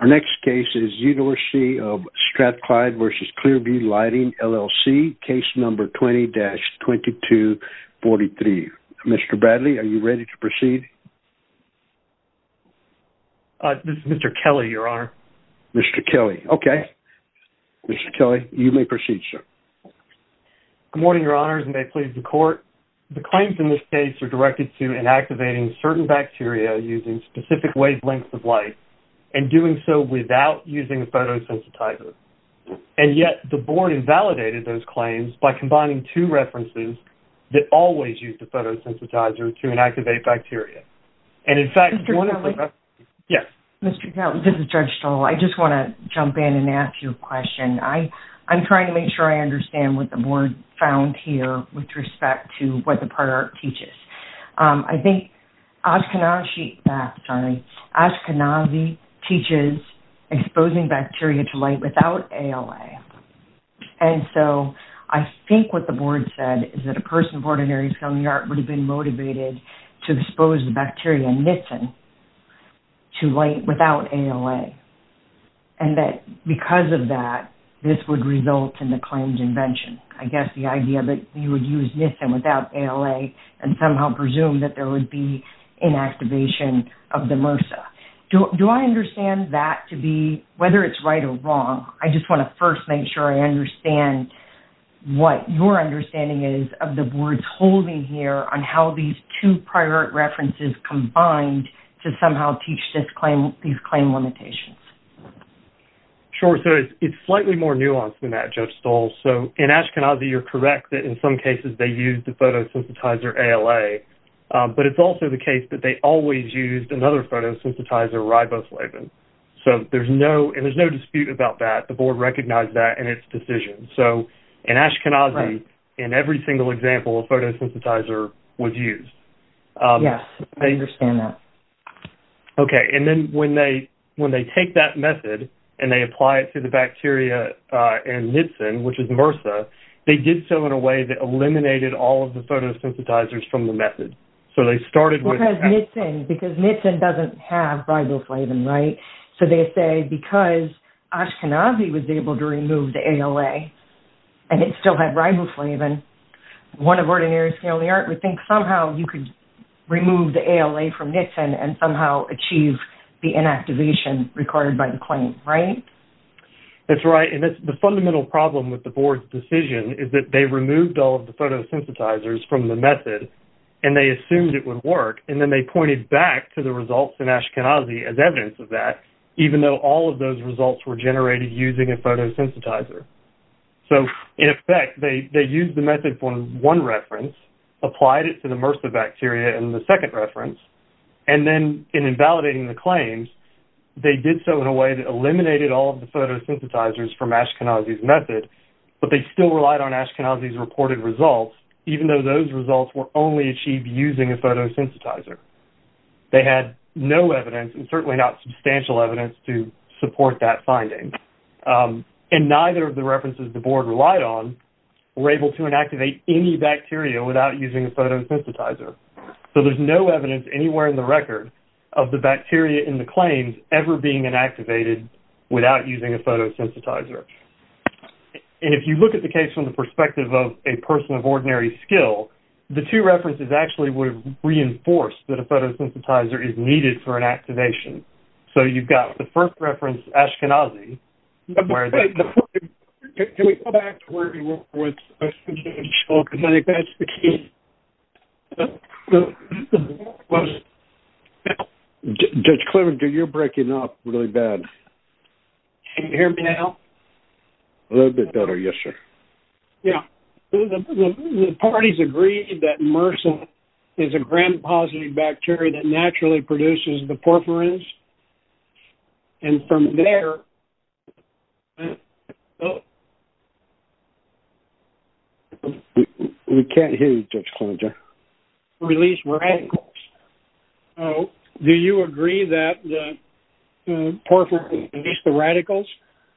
Our next case is University of Strathclyde v. Clear-Vu Lighting, LLC, case number 20-2243. Mr. Bradley, are you ready to proceed? This is Mr. Kelly, Your Honor. Mr. Kelly. Okay. Mr. Kelly, you may proceed, sir. Good morning, Your Honors, and may it please the Court. The claims in this case are directed to inactivating certain bacteria using specific wavelengths of light, and doing so without using a photosensitizer. And yet, the Board invalidated those claims by combining two references that always use the photosensitizer to inactivate bacteria. And in fact, one of the- Mr. Kelly. Yes. Mr. Kelly, this is Judge Stoll. I just want to jump in and ask you a question. I'm trying to make sure I understand what the Board found here with respect to what the product teaches. I think Ashkenazi- sorry, Ashkenazi teaches exposing bacteria to light without ALA. And so, I think what the Board said is that a person of ordinary skill and the art would have been motivated to expose the bacteria, Nissen, to light without ALA. And that because of that, this would result in the claimed invention. I guess the idea that you would use Nissen without ALA and somehow presume that there would be inactivation of the MRSA. Do I understand that to be- whether it's right or wrong, I just want to first make sure I understand what your understanding is of the Board's holding here on how these two prior references combined to somehow teach these claim limitations. Sure. So, it's slightly more nuanced than that, Judge Stoll. So, in Ashkenazi, you're correct that in some cases they used the photosynthesizer ALA. But it's also the case that they always used another photosynthesizer, Riboslaven. So, there's no- and there's no dispute about that. The Board recognized that in its decision. So, in Ashkenazi, in every single example, a photosynthesizer was used. Yes, I understand that. Okay. And then when they take that method and they apply it to the bacteria in Nissen, which is MRSA, they did so in a way that eliminated all of the photosynthesizers from the method. So, they started with- Because Nissen doesn't have Riboslaven, right? So, they say because Ashkenazi was able to remove the ALA and it still had Riboslaven, one of ordinary scaly art would think somehow you could remove the ALA from Nissen and somehow achieve the inactivation recorded by the claim, right? That's right. And the fundamental problem with the Board's decision is that they removed all of the photosynthesizers from the method and they assumed it would work. And then they pointed back to the results in Ashkenazi as evidence of that, even though all of those results were generated using a photosynthesizer. So, in effect, they used the method for one reference, applied it to the MRSA bacteria in the second reference, and then in invalidating the claims, they did so in a way that eliminated all of the photosynthesizers from Ashkenazi's method, but they still relied on Ashkenazi's reported results, even though those results were only achieved using a photosynthesizer. They had no evidence and certainly not substantial evidence to support that finding. And neither of the references the Board relied on were able to inactivate any bacteria without using a photosynthesizer. So there's no evidence anywhere in the record of the bacteria in the claims ever being inactivated without using a photosynthesizer. And if you look at the case from the perspective of a person of ordinary skill, the two references actually would reinforce that a photosynthesizer is needed for inactivation. So you've got the first reference, Ashkenazi, where... Can we go back to where we were with Ashkenazi? Judge Clement, you're breaking up really bad. Can you hear me now? A little bit better. Yes, sir. Yeah. The parties agreed that MRSA is a gram-positive bacteria that naturally produces the porphyrins, and from there... We can't hear you, Judge Clemenger. ...released radicals. Do you agree that the porphyrins released the radicals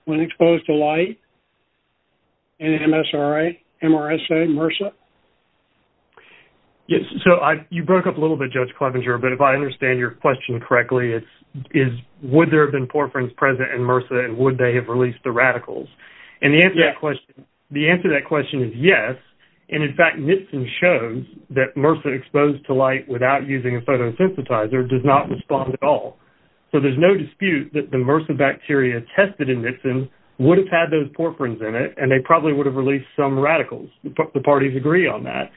when exposed to light in MSRA, MRSA, MRSA? Yes. So you broke up a little bit, Judge Clemenger, but if I understand your question correctly, it's, is, would there have been porphyrins present in MRSA, and would they have released the radicals? And the answer to that question... Yes. The answer to that question is yes, and in fact, Nitsin shows that MRSA exposed to light without using a photosynthesizer does not respond at all. So there's no dispute that the MRSA bacteria tested in Nitsin would have had those porphyrins in it, and they probably would have released some radicals. The parties agree on that.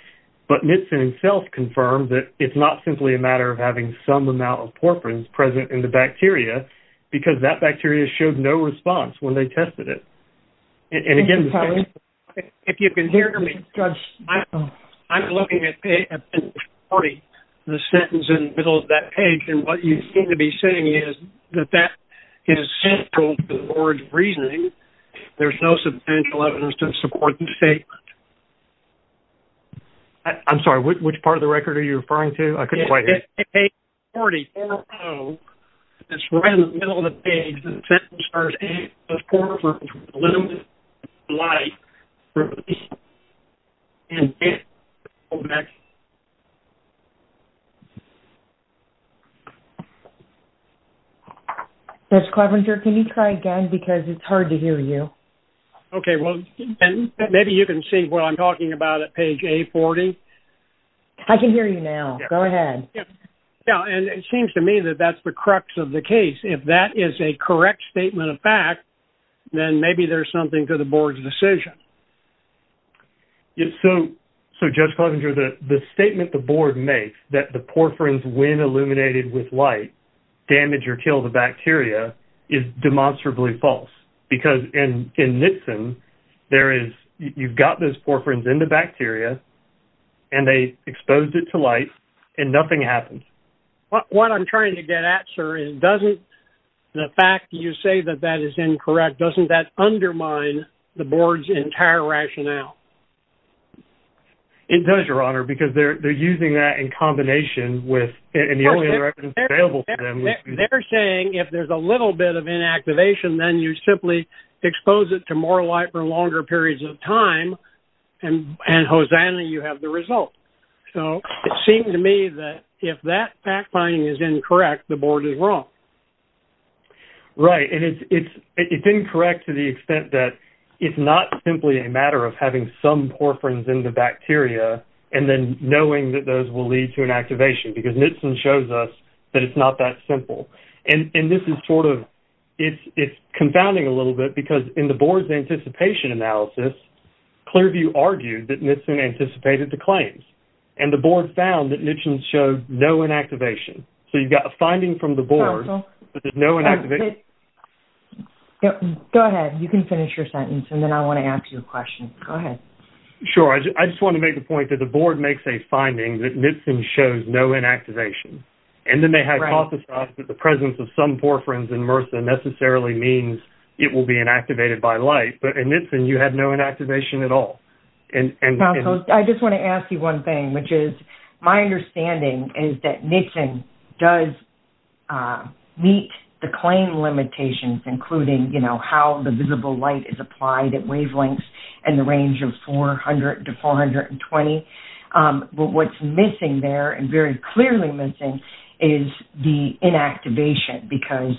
But Nitsin himself confirmed that it's not simply a matter of having some amount of porphyrins present in the bacteria, because that bacteria showed no response when they tested it. And again... If you can hear me, Judge, I'm looking at page 40, the sentence in the middle of that page, and what you seem to be saying is that that is central to the board's reasoning. There's no substantial evidence to support the statement. I'm sorry. Which part of the record are you referring to? I couldn't quite hear. Page 40. It's right in the middle of the page. The sentence starts,............ Judge Klobuchar, can you try again? Because it's hard to hear you. Okay. Maybe you can see what I'm talking about at page A40. I can hear you now. Go ahead. Yeah, and it seems to me that that's the crux of the case. If that is a correct statement of fact, then maybe there's something to the board's decision. So, Judge Klobuchar, the statement the board makes that the porphyrins, when illuminated with light, damage or kill the bacteria is demonstrably false. Because in Nixon, you've got those porphyrins in the bacteria, and they exposed it to light, and nothing happened. What I'm trying to get at, sir, is the fact that you say that that is incorrect, doesn't that undermine the board's entire rationale? It does, Your Honor, because they're using that in combination with...... They're saying if there's a little bit of inactivation, then you simply expose it to more light for longer periods of time, and hosanna, you have the result. So, it seemed to me that if that fact-finding is incorrect, the board is wrong. Right, and it's incorrect to the extent that it's not simply a matter of having some porphyrins in the bacteria, and then knowing that those will lead to inactivation, because Nixon shows us that it's not that simple. And this is sort of... It's confounding a little bit, because in the board's anticipation analysis, Clearview argued that Nixon anticipated the claims, and the board found that Nixon showed no inactivation. So, you've got a finding from the board, but there's no inactivation. Go ahead, you can finish your sentence, and then I want to ask you a question. Sure, I just want to make the point that the board makes a finding that Nixon shows no inactivation, and then they hypothesize that the presence of some porphyrins in MRSA necessarily means it will be inactivated by light. But in Nixon, you had no inactivation at all. I just want to ask you one thing, which is, my understanding is that Nixon does meet the claim limitations, including how the visible light is applied at wavelengths in the range of 400 to 420. But what's missing there, and very clearly missing, is the inactivation, because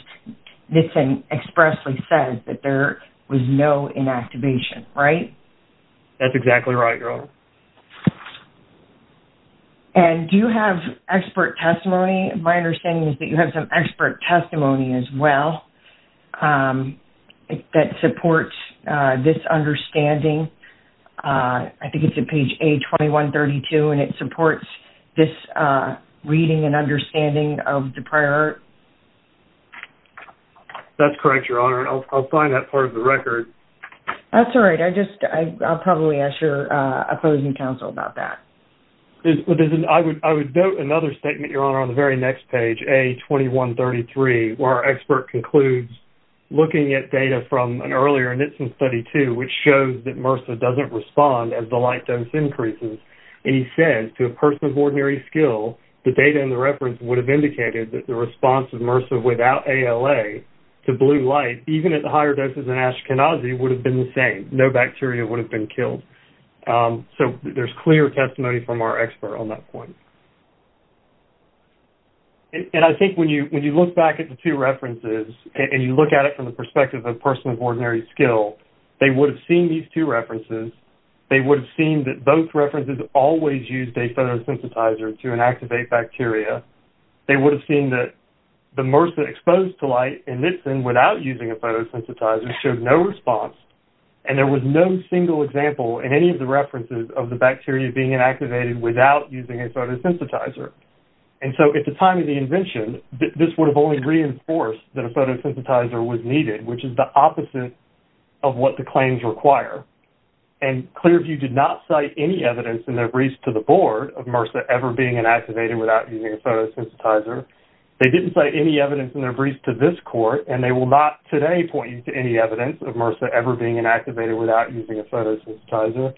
Nixon expressly says that there was no inactivation, right? That's exactly right, girl. And do you have expert testimony? My understanding is that you have some expert testimony as well, that supports this understanding. I think it's at page A2132, and it supports this reading and understanding of the prior... That's correct, Your Honor. I'll find that part of the record. That's all right. I'll probably ask your opposing counsel about that. I would note another statement, Your Honor, on the very next page, A2133, where our expert concludes, looking at data from an earlier Nixon study, too, which shows that MRSA doesn't respond as the light dose increases. And he says, to a person of ordinary skill, the data in the reference would have indicated that the response of MRSA without ALA to blue light, even at the higher doses in Ashkenazi, would have been the same. No bacteria would have been killed. So there's clear testimony from our expert on that point. And I think when you look back at the two references, and you look at it from the perspective of a person of ordinary skill, they would have seen these two references, they would have seen that both references always used a photosensitizer to inactivate bacteria, they would have seen that the MRSA exposed to light in Nixon without using a photosensitizer showed no response, and there was no single example in any of the references of the bacteria being inactivated without using a photosensitizer. And so at the time of the invention, this would have only reinforced that a photosensitizer was needed, which is the opposite of what the claims require. And Clearview did not cite any evidence in their briefs to the board of MRSA ever being inactivated without using a photosensitizer. They didn't cite any evidence in their briefs to this court, and they will not today point you to any evidence of MRSA ever being inactivated without using a photosensitizer.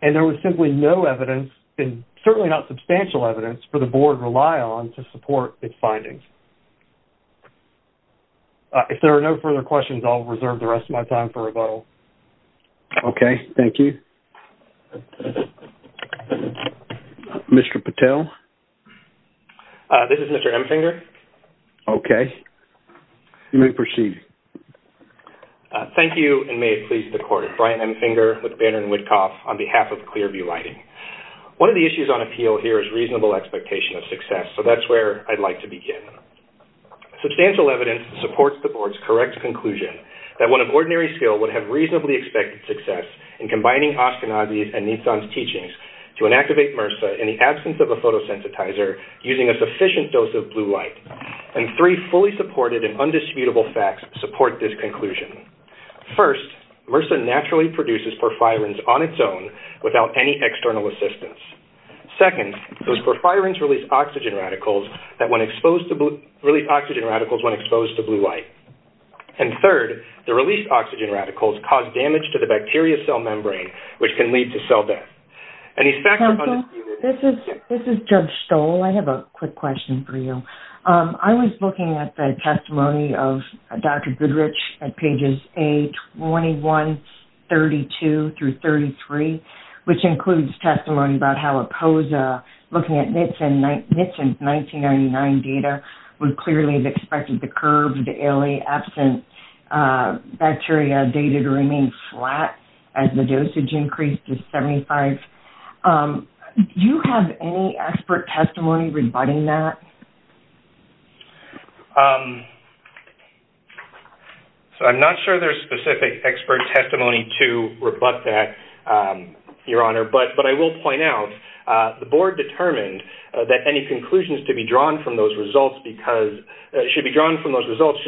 And there was simply no evidence, and certainly not substantial evidence, for the board to rely on to support its findings. If there are no further questions, I'll reserve the rest of my time for rebuttal. Okay, thank you. Mr. Patel? This is Mr. Emfinger. Okay. You may proceed. Thank you, and may it please the court. Brian Emfinger with Banner & Whitcoff on behalf of Clearview Lighting. One of the issues on appeal here is reasonable expectation of success, so that's where I'd like to begin. Substantial evidence supports the board's correct conclusion that one of ordinary skill would have reasonably expected success in combining Ashkenazi and Nissan's teachings to inactivate MRSA in the absence of a photosensitizer using a sufficient dose of blue light. And three fully supported and undisputable facts support this conclusion. First, MRSA naturally produces porphyrins on its own without any external assistance. Second, those porphyrins release oxygen radicals when exposed to blue light. And third, the released oxygen radicals cause damage to the bacteria cell membrane, which can lead to cell death. Counsel, this is Judge Stoll. I have a quick question for you. I was looking at the testimony of Dr. Goodrich at pages A21, 32 through 33, which includes testimony about how APOSA, looking at Nissan's 1999 data, would clearly have expected the curbed, the early absent bacteria data to remain flat as the dosage increased to 75. Do you have any expert testimony rebutting that? I'm not sure there's specific expert testimony to rebut that, Your Honor, but I will point out the board determined that any conclusions to be drawn from those results should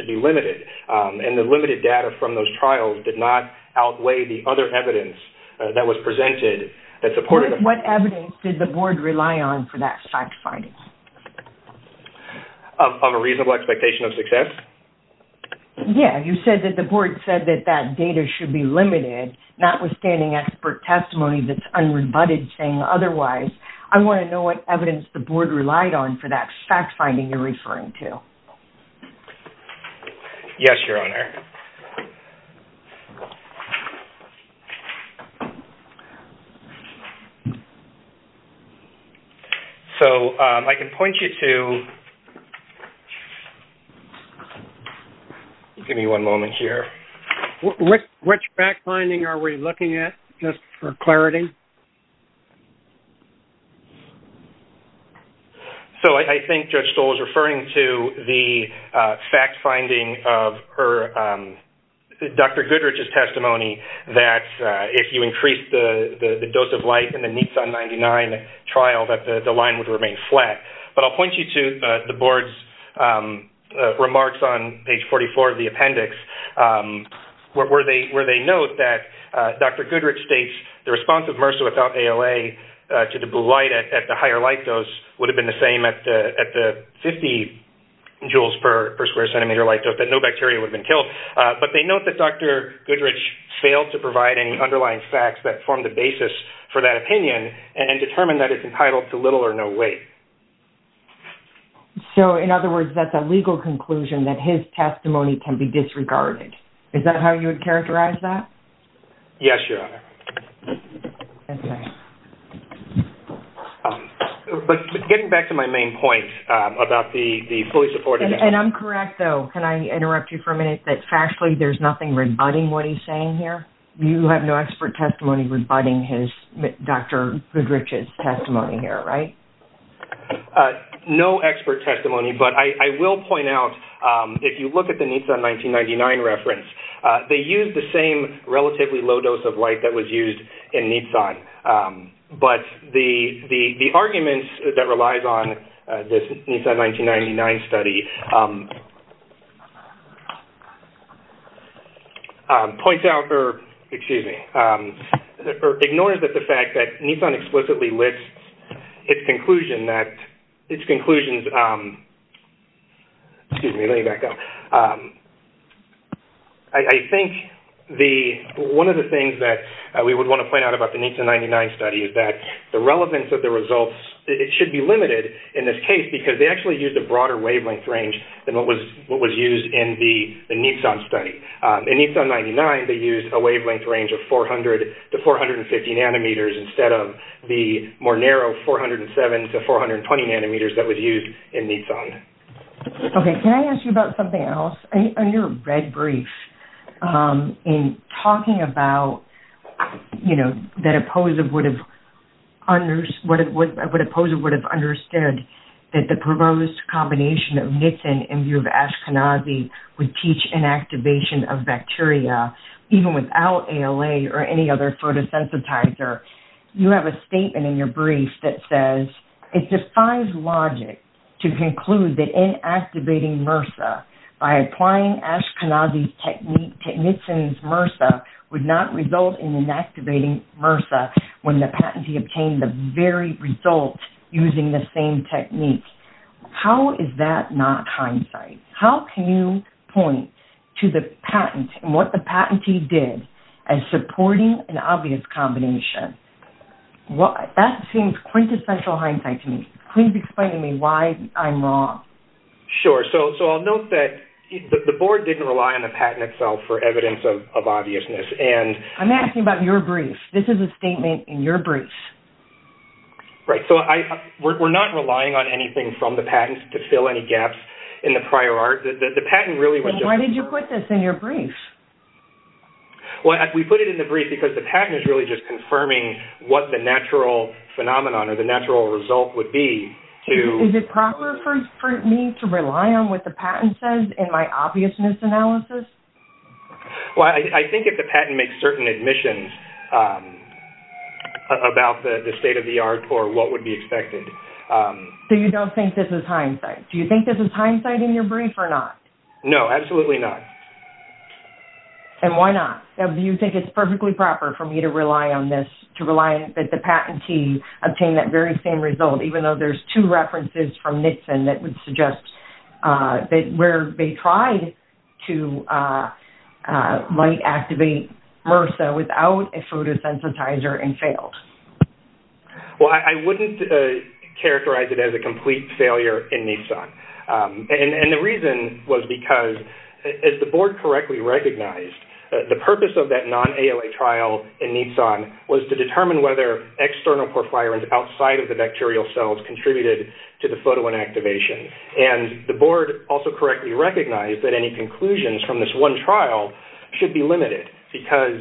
be limited, and the limited data from those trials did not outweigh the other evidence that was presented. What evidence did the board rely on for that fact finding? Of a reasonable expectation of success? Yeah, you said that the board said that that data should be limited, notwithstanding expert testimony that's unrebutted and saying otherwise. I want to know what evidence the board relied on for that fact finding you're referring to. Yes, Your Honor. So, I can point you to... Give me one moment here. Which fact finding are we looking at, just for clarity? So, I think Judge Stoll is referring to the fact finding of Dr. Goodrich's testimony that if you increase the dose of light in the Nitsan-99 trial, that the line would remain flat. But I'll point you to the board's remarks on page 44 of the appendix where they note that Dr. Goodrich states the response of MRSA without ALA to the blue light at the higher light dose would have been the same at the 50 joules per square centimeter light dose, that no bacteria would have been killed. But they note that Dr. Goodrich failed to provide any underlying facts that formed the basis for that opinion and determined that it's entitled to little or no weight. So, in other words, that's a legal conclusion that his testimony can be disregarded. Is that how you would characterize that? Yes, Your Honor. But getting back to my main point about the fully supported evidence... And I'm correct though, can I interrupt you for a minute, that factually there's nothing rebutting what he's saying here? You have no expert testimony rebutting Dr. Goodrich's testimony here, right? No expert testimony, but I will point out if you look at the Nissan 1999 reference, they used the same relatively low dose of light that was used in Nissan. But the argument that relies on this Nissan 1999 study points out... Excuse me. Ignores the fact that Nissan explicitly lists its conclusion that... Excuse me, let me back up. I think one of the things that we would want to point out about the Nissan 1999 study is that the relevance of the results should be limited in this case because they actually used a broader wavelength range than what was used in the Nissan study. In Nissan 1999, they used a wavelength range of 400 to 450 nanometers instead of the more narrow 407 to 420 nanometers that was used in Nissan. Okay, can I ask you about something else? In your red brief, in talking about what a poser would have understood that the proposed combination of Nissan in view of Ashkenazi would teach inactivation of bacteria even without ALA or any other photosensitizer, you have a statement in your brief that says, it defies logic to conclude that inactivating MRSA by applying Ashkenazi's technique to Nissan's MRSA would not result in inactivating MRSA when the patentee obtained the very result using the same technique. How is that not hindsight? How can you point to the patent and what the patentee did as supporting an obvious combination? That seems quintessential hindsight to me. Can you explain to me why I'm wrong? Sure, so I'll note that the board didn't rely on the patent itself for evidence of obviousness. I'm asking about your brief. This is a statement in your brief. Right, so we're not relying on anything from the patent to fill any gaps in the prior art. Why did you put this in your brief? We put it in the brief because the patent is really just confirming what the natural phenomenon or the natural result would be. Is it proper for me to rely on what the patent says in my obviousness analysis? I think if the patent makes certain admissions about the state of the art or what would be expected. So you don't think this is hindsight? Do you think this is hindsight in your brief? No, absolutely not. Why not? Do you think it's perfectly proper for me to rely on this? Do you think it's perfectly proper for me to rely on this? Even though there's two references from Nixon that would suggest where they tried to light activate MRSA without a photosensitizer and failed. I wouldn't characterize it as a complete failure in NISAN. The reason was because as the board correctly recognized the purpose of that non-ALA trial was to determine whether external outside of the bacterial cells contributed to the photo inactivation. The board also correctly recognized that any conclusions from this one trial should be limited because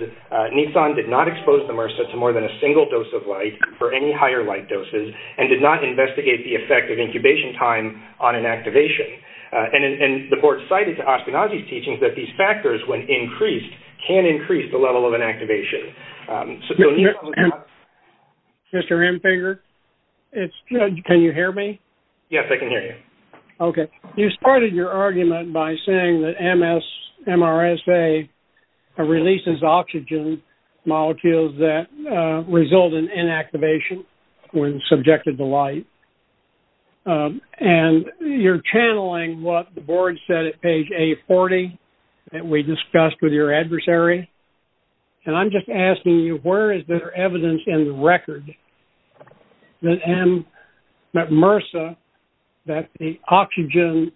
NISAN did not expose the MRSA to more than a single dose of light for any higher light doses and did not investigate the effect of incubation time on inactivation. The board cited to Ospinozzi's teachings that these factors when increased can increase the level of inactivation. Mr. Hemfinger, can you hear me? Yes, I can hear you. You started your argument by saying that MRSA releases oxygen molecules that result in inactivation when subjected to light. And you're channeling what the board said at page A40 that we discussed with your adversary. And I'm just asking you where is there evidence in the record that MRSA, that the oxygen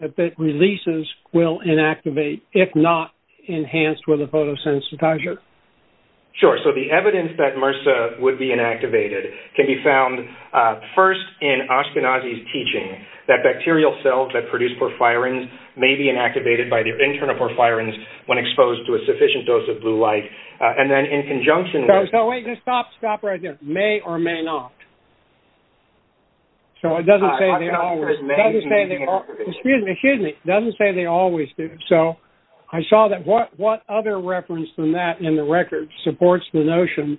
that releases will inactivate if not enhanced with a photosensitizer? Sure. So the evidence that MRSA would be inactivated can be found first in Ospinozzi's teaching that bacterial cells that produce porphyrins may be inactivated by their internal porphyrins when exposed to a sufficient dose of blue light. And then in conjunction with... Stop right there. May or may not. So it doesn't say they always... Excuse me. It doesn't say they always do. So I saw that what other reference than that in the record supports the notion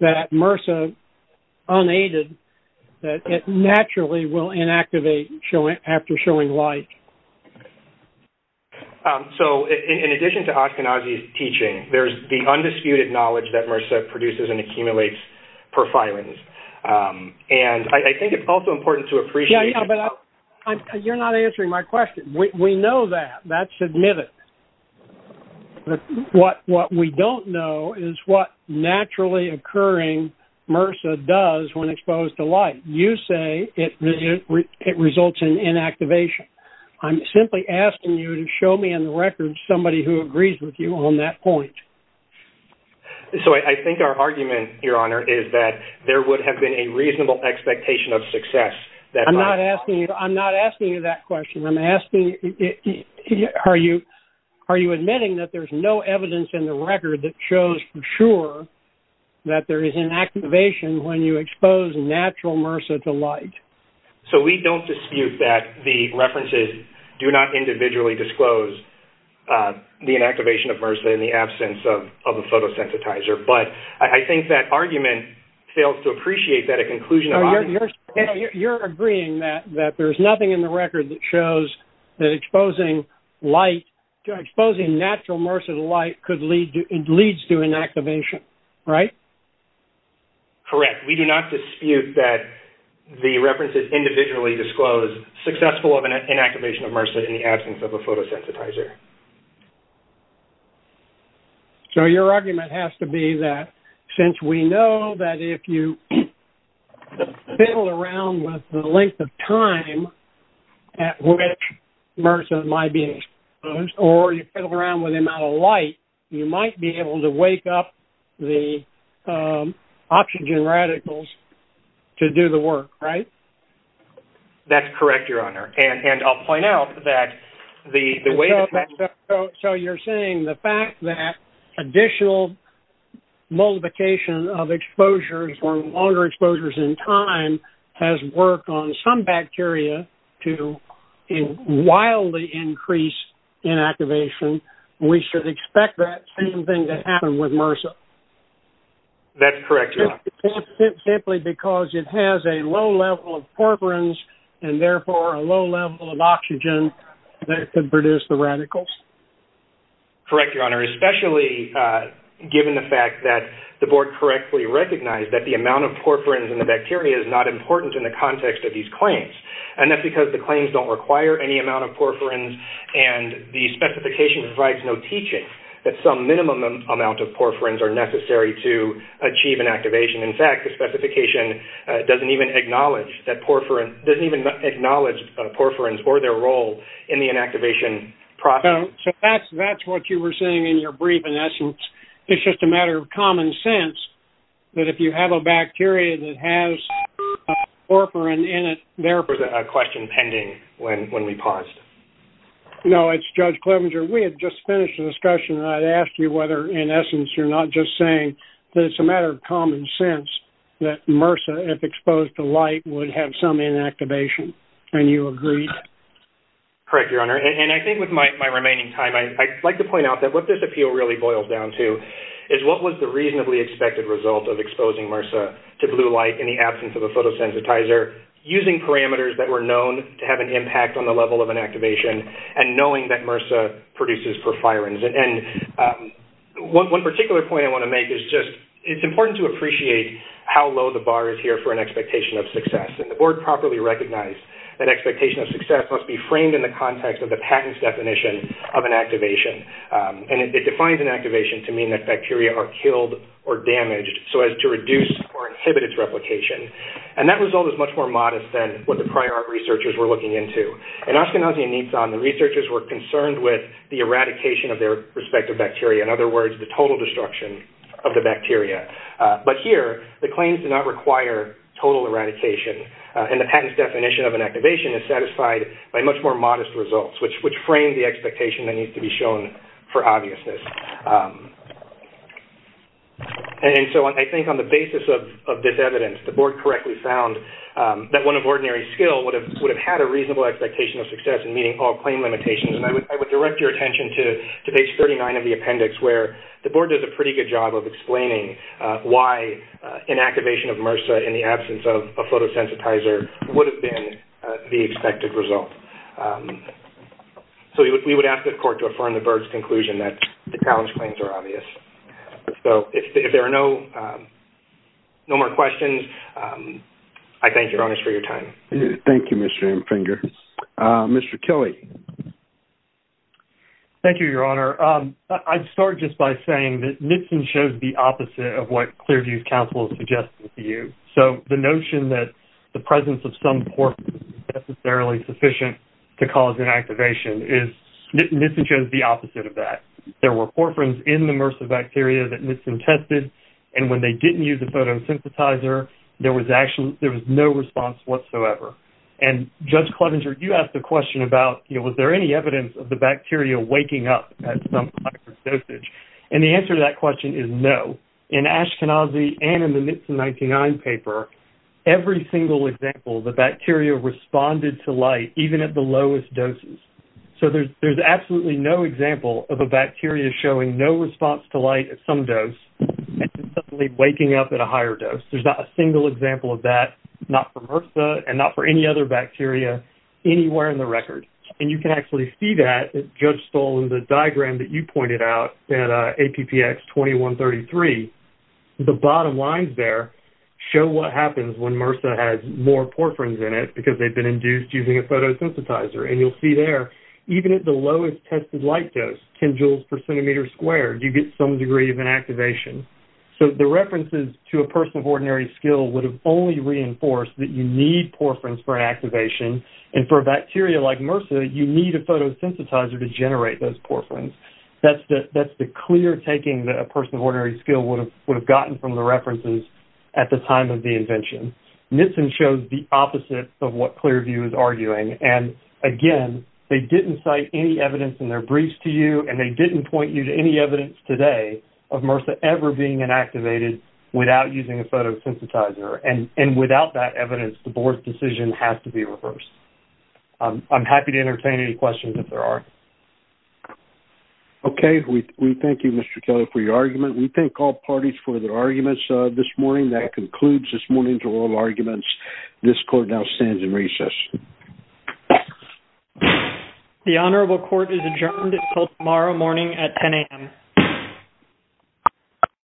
that MRSA unaided that it naturally will inactivate after showing light? So in addition to Ospinozzi's teaching there's the undisputed knowledge that MRSA produces and accumulates porphyrins. And I think it's also important to appreciate... You're not answering my question. We know that. That's admitted. What we don't know is what naturally occurring MRSA does when exposed to light. You say it results in inactivation. I'm simply asking you to show me somebody who agrees with you on that point. So I think our argument, Your Honor, is that there would have been a reasonable expectation of success. I'm not asking you that question. I'm asking... Are you admitting that there's no evidence in the record that shows for sure that there is inactivation when you expose natural MRSA to light? So we don't dispute that the references do not individually disclose the inactivation of MRSA in the absence of a photosensitizer. But I think that argument fails to appreciate that a conclusion of... You're agreeing that there's nothing in the record that shows that exposing natural MRSA to light leads to inactivation, right? Correct. We do not dispute that the references do not individually disclose successful inactivation of MRSA in the absence of a photosensitizer. So your argument has to be that since we know that if you fiddle around with the length of time at which MRSA might be exposed or you fiddle around with the amount of light, you might be able to wake up the oxygen radicals to do the work, right? That's correct, Your Honor. And I'll point out that the way... So you're saying the fact that additional multiplication of exposures or longer exposures in time has worked on some bacteria to wildly increase inactivation, we should expect that same thing to happen with MRSA? That's correct, Your Honor. Simply because it has a low level of porphyrins and therefore a low level of oxygen that could produce the radicals? Correct, Your Honor, especially given the fact that the Board correctly recognized that the amount of porphyrins in the bacteria is not important in the context of these claims. And that's because the claims don't require any amount of porphyrins and the specification provides no teaching that some minimum amount of porphyrins are necessary to achieve inactivation. In fact, the specification doesn't even acknowledge porphyrins or their role in the inactivation process. So that's what you were saying in your brief, in essence. It's just a matter of common sense that if you have a bacteria that has a porphyrin in it... There was a question pending when we paused. No, it's Judge Clevenger. We had just finished the discussion and I'd ask you whether, in essence, you're not just saying that it's a matter of common sense that MRSA, if exposed to light, would have some inactivation, and you agreed. Correct, Your Honor. And I think with my remaining time, I'd like to point out that what this appeal really boils down to is what was the reasonably expected result of exposing MRSA to blue light in the absence of a photosensitizer using parameters that were known to have an impact on the level of inactivation and knowing that MRSA produces porphyrins. One particular point I want to make is just it's important to appreciate how low the bar is here for an expectation of success. The Board properly recognized that expectation of success must be framed in the context of the patent's definition of inactivation. It defines inactivation to mean that bacteria are killed or damaged so as to reduce or inhibit its replication. And that result is much more modest than what the prior researchers were looking into. In Ashkenazi and Nitsan, the researchers were concerned with the eradication of their respective bacteria, in other words, the total destruction of the bacteria. But here, the claims do not require total eradication and the patent's definition of inactivation is satisfied by much more modest results which frame the expectation that needs to be shown for obviousness. And so I think on the basis of this evidence, the Board correctly found that one of ordinary skill would have had a reasonable expectation of success in meeting all claim limitations. And I would direct your attention to page 39 of the appendix where the Board does a pretty good job of explaining why inactivation of MRSA in the absence of a photosensitizer would have been the expected result. So we would ask the Court to affirm the Board's conclusion that the challenge claims are obvious. So if there are no more questions, I thank you, Your Honor, for your time. Thank you, Mr. Emfinger. Mr. Kelly? Thank you, Your Honor. I'd start just by saying that Nitsan shows the opposite of what Clearview's counsel is suggesting to you. So the notion that the presence of some porphyrin is necessarily sufficient to cause inactivation is- I mean, there was no evidence of the bacteria that Nitsan tested and when they didn't use the photosensitizer, there was no response whatsoever. And Judge Clevenger, you asked the question about, was there any evidence of the bacteria waking up at some type of dosage? And the answer to that question is no. In Ashkenazi and in the Nitsan 99 paper, every single example, the bacteria responded to light at some dose and to suddenly waking up at a higher dose. There's not a single example of that, not for MRSA and not for any other bacteria anywhere in the record. And you can actually see that, Judge Stoll, in the diagram that you pointed out at APPX 2133. The bottom lines there show what happens when MRSA has more porphyrins in it because they've been induced using a photosensitizer. And you'll see there, even at the lowest tested light dose, 10 joules per centimeter squared, you get some degree of inactivation. So the references to a person of ordinary skill would have only reinforced that you need porphyrins for inactivation and for a bacteria like MRSA, you need a photosensitizer to generate those porphyrins. That's the clear taking that a person of ordinary skill would have gotten from the references at the time of the invention. Nissen shows the opposite of what Clearview is arguing. And again, they didn't cite any evidence in their briefs to you and they didn't point you to any evidence today of MRSA ever being inactivated without using a photosensitizer. And without that evidence, the board's decision has to be reversed. I'm happy to entertain any questions if there are. Okay. We thank you, Mr. Kelly, for your argument. We thank all parties for their arguments this morning. That concludes this morning's oral arguments. This court now stands in recess. The honorable court is adjourned until tomorrow morning at 10 a.m.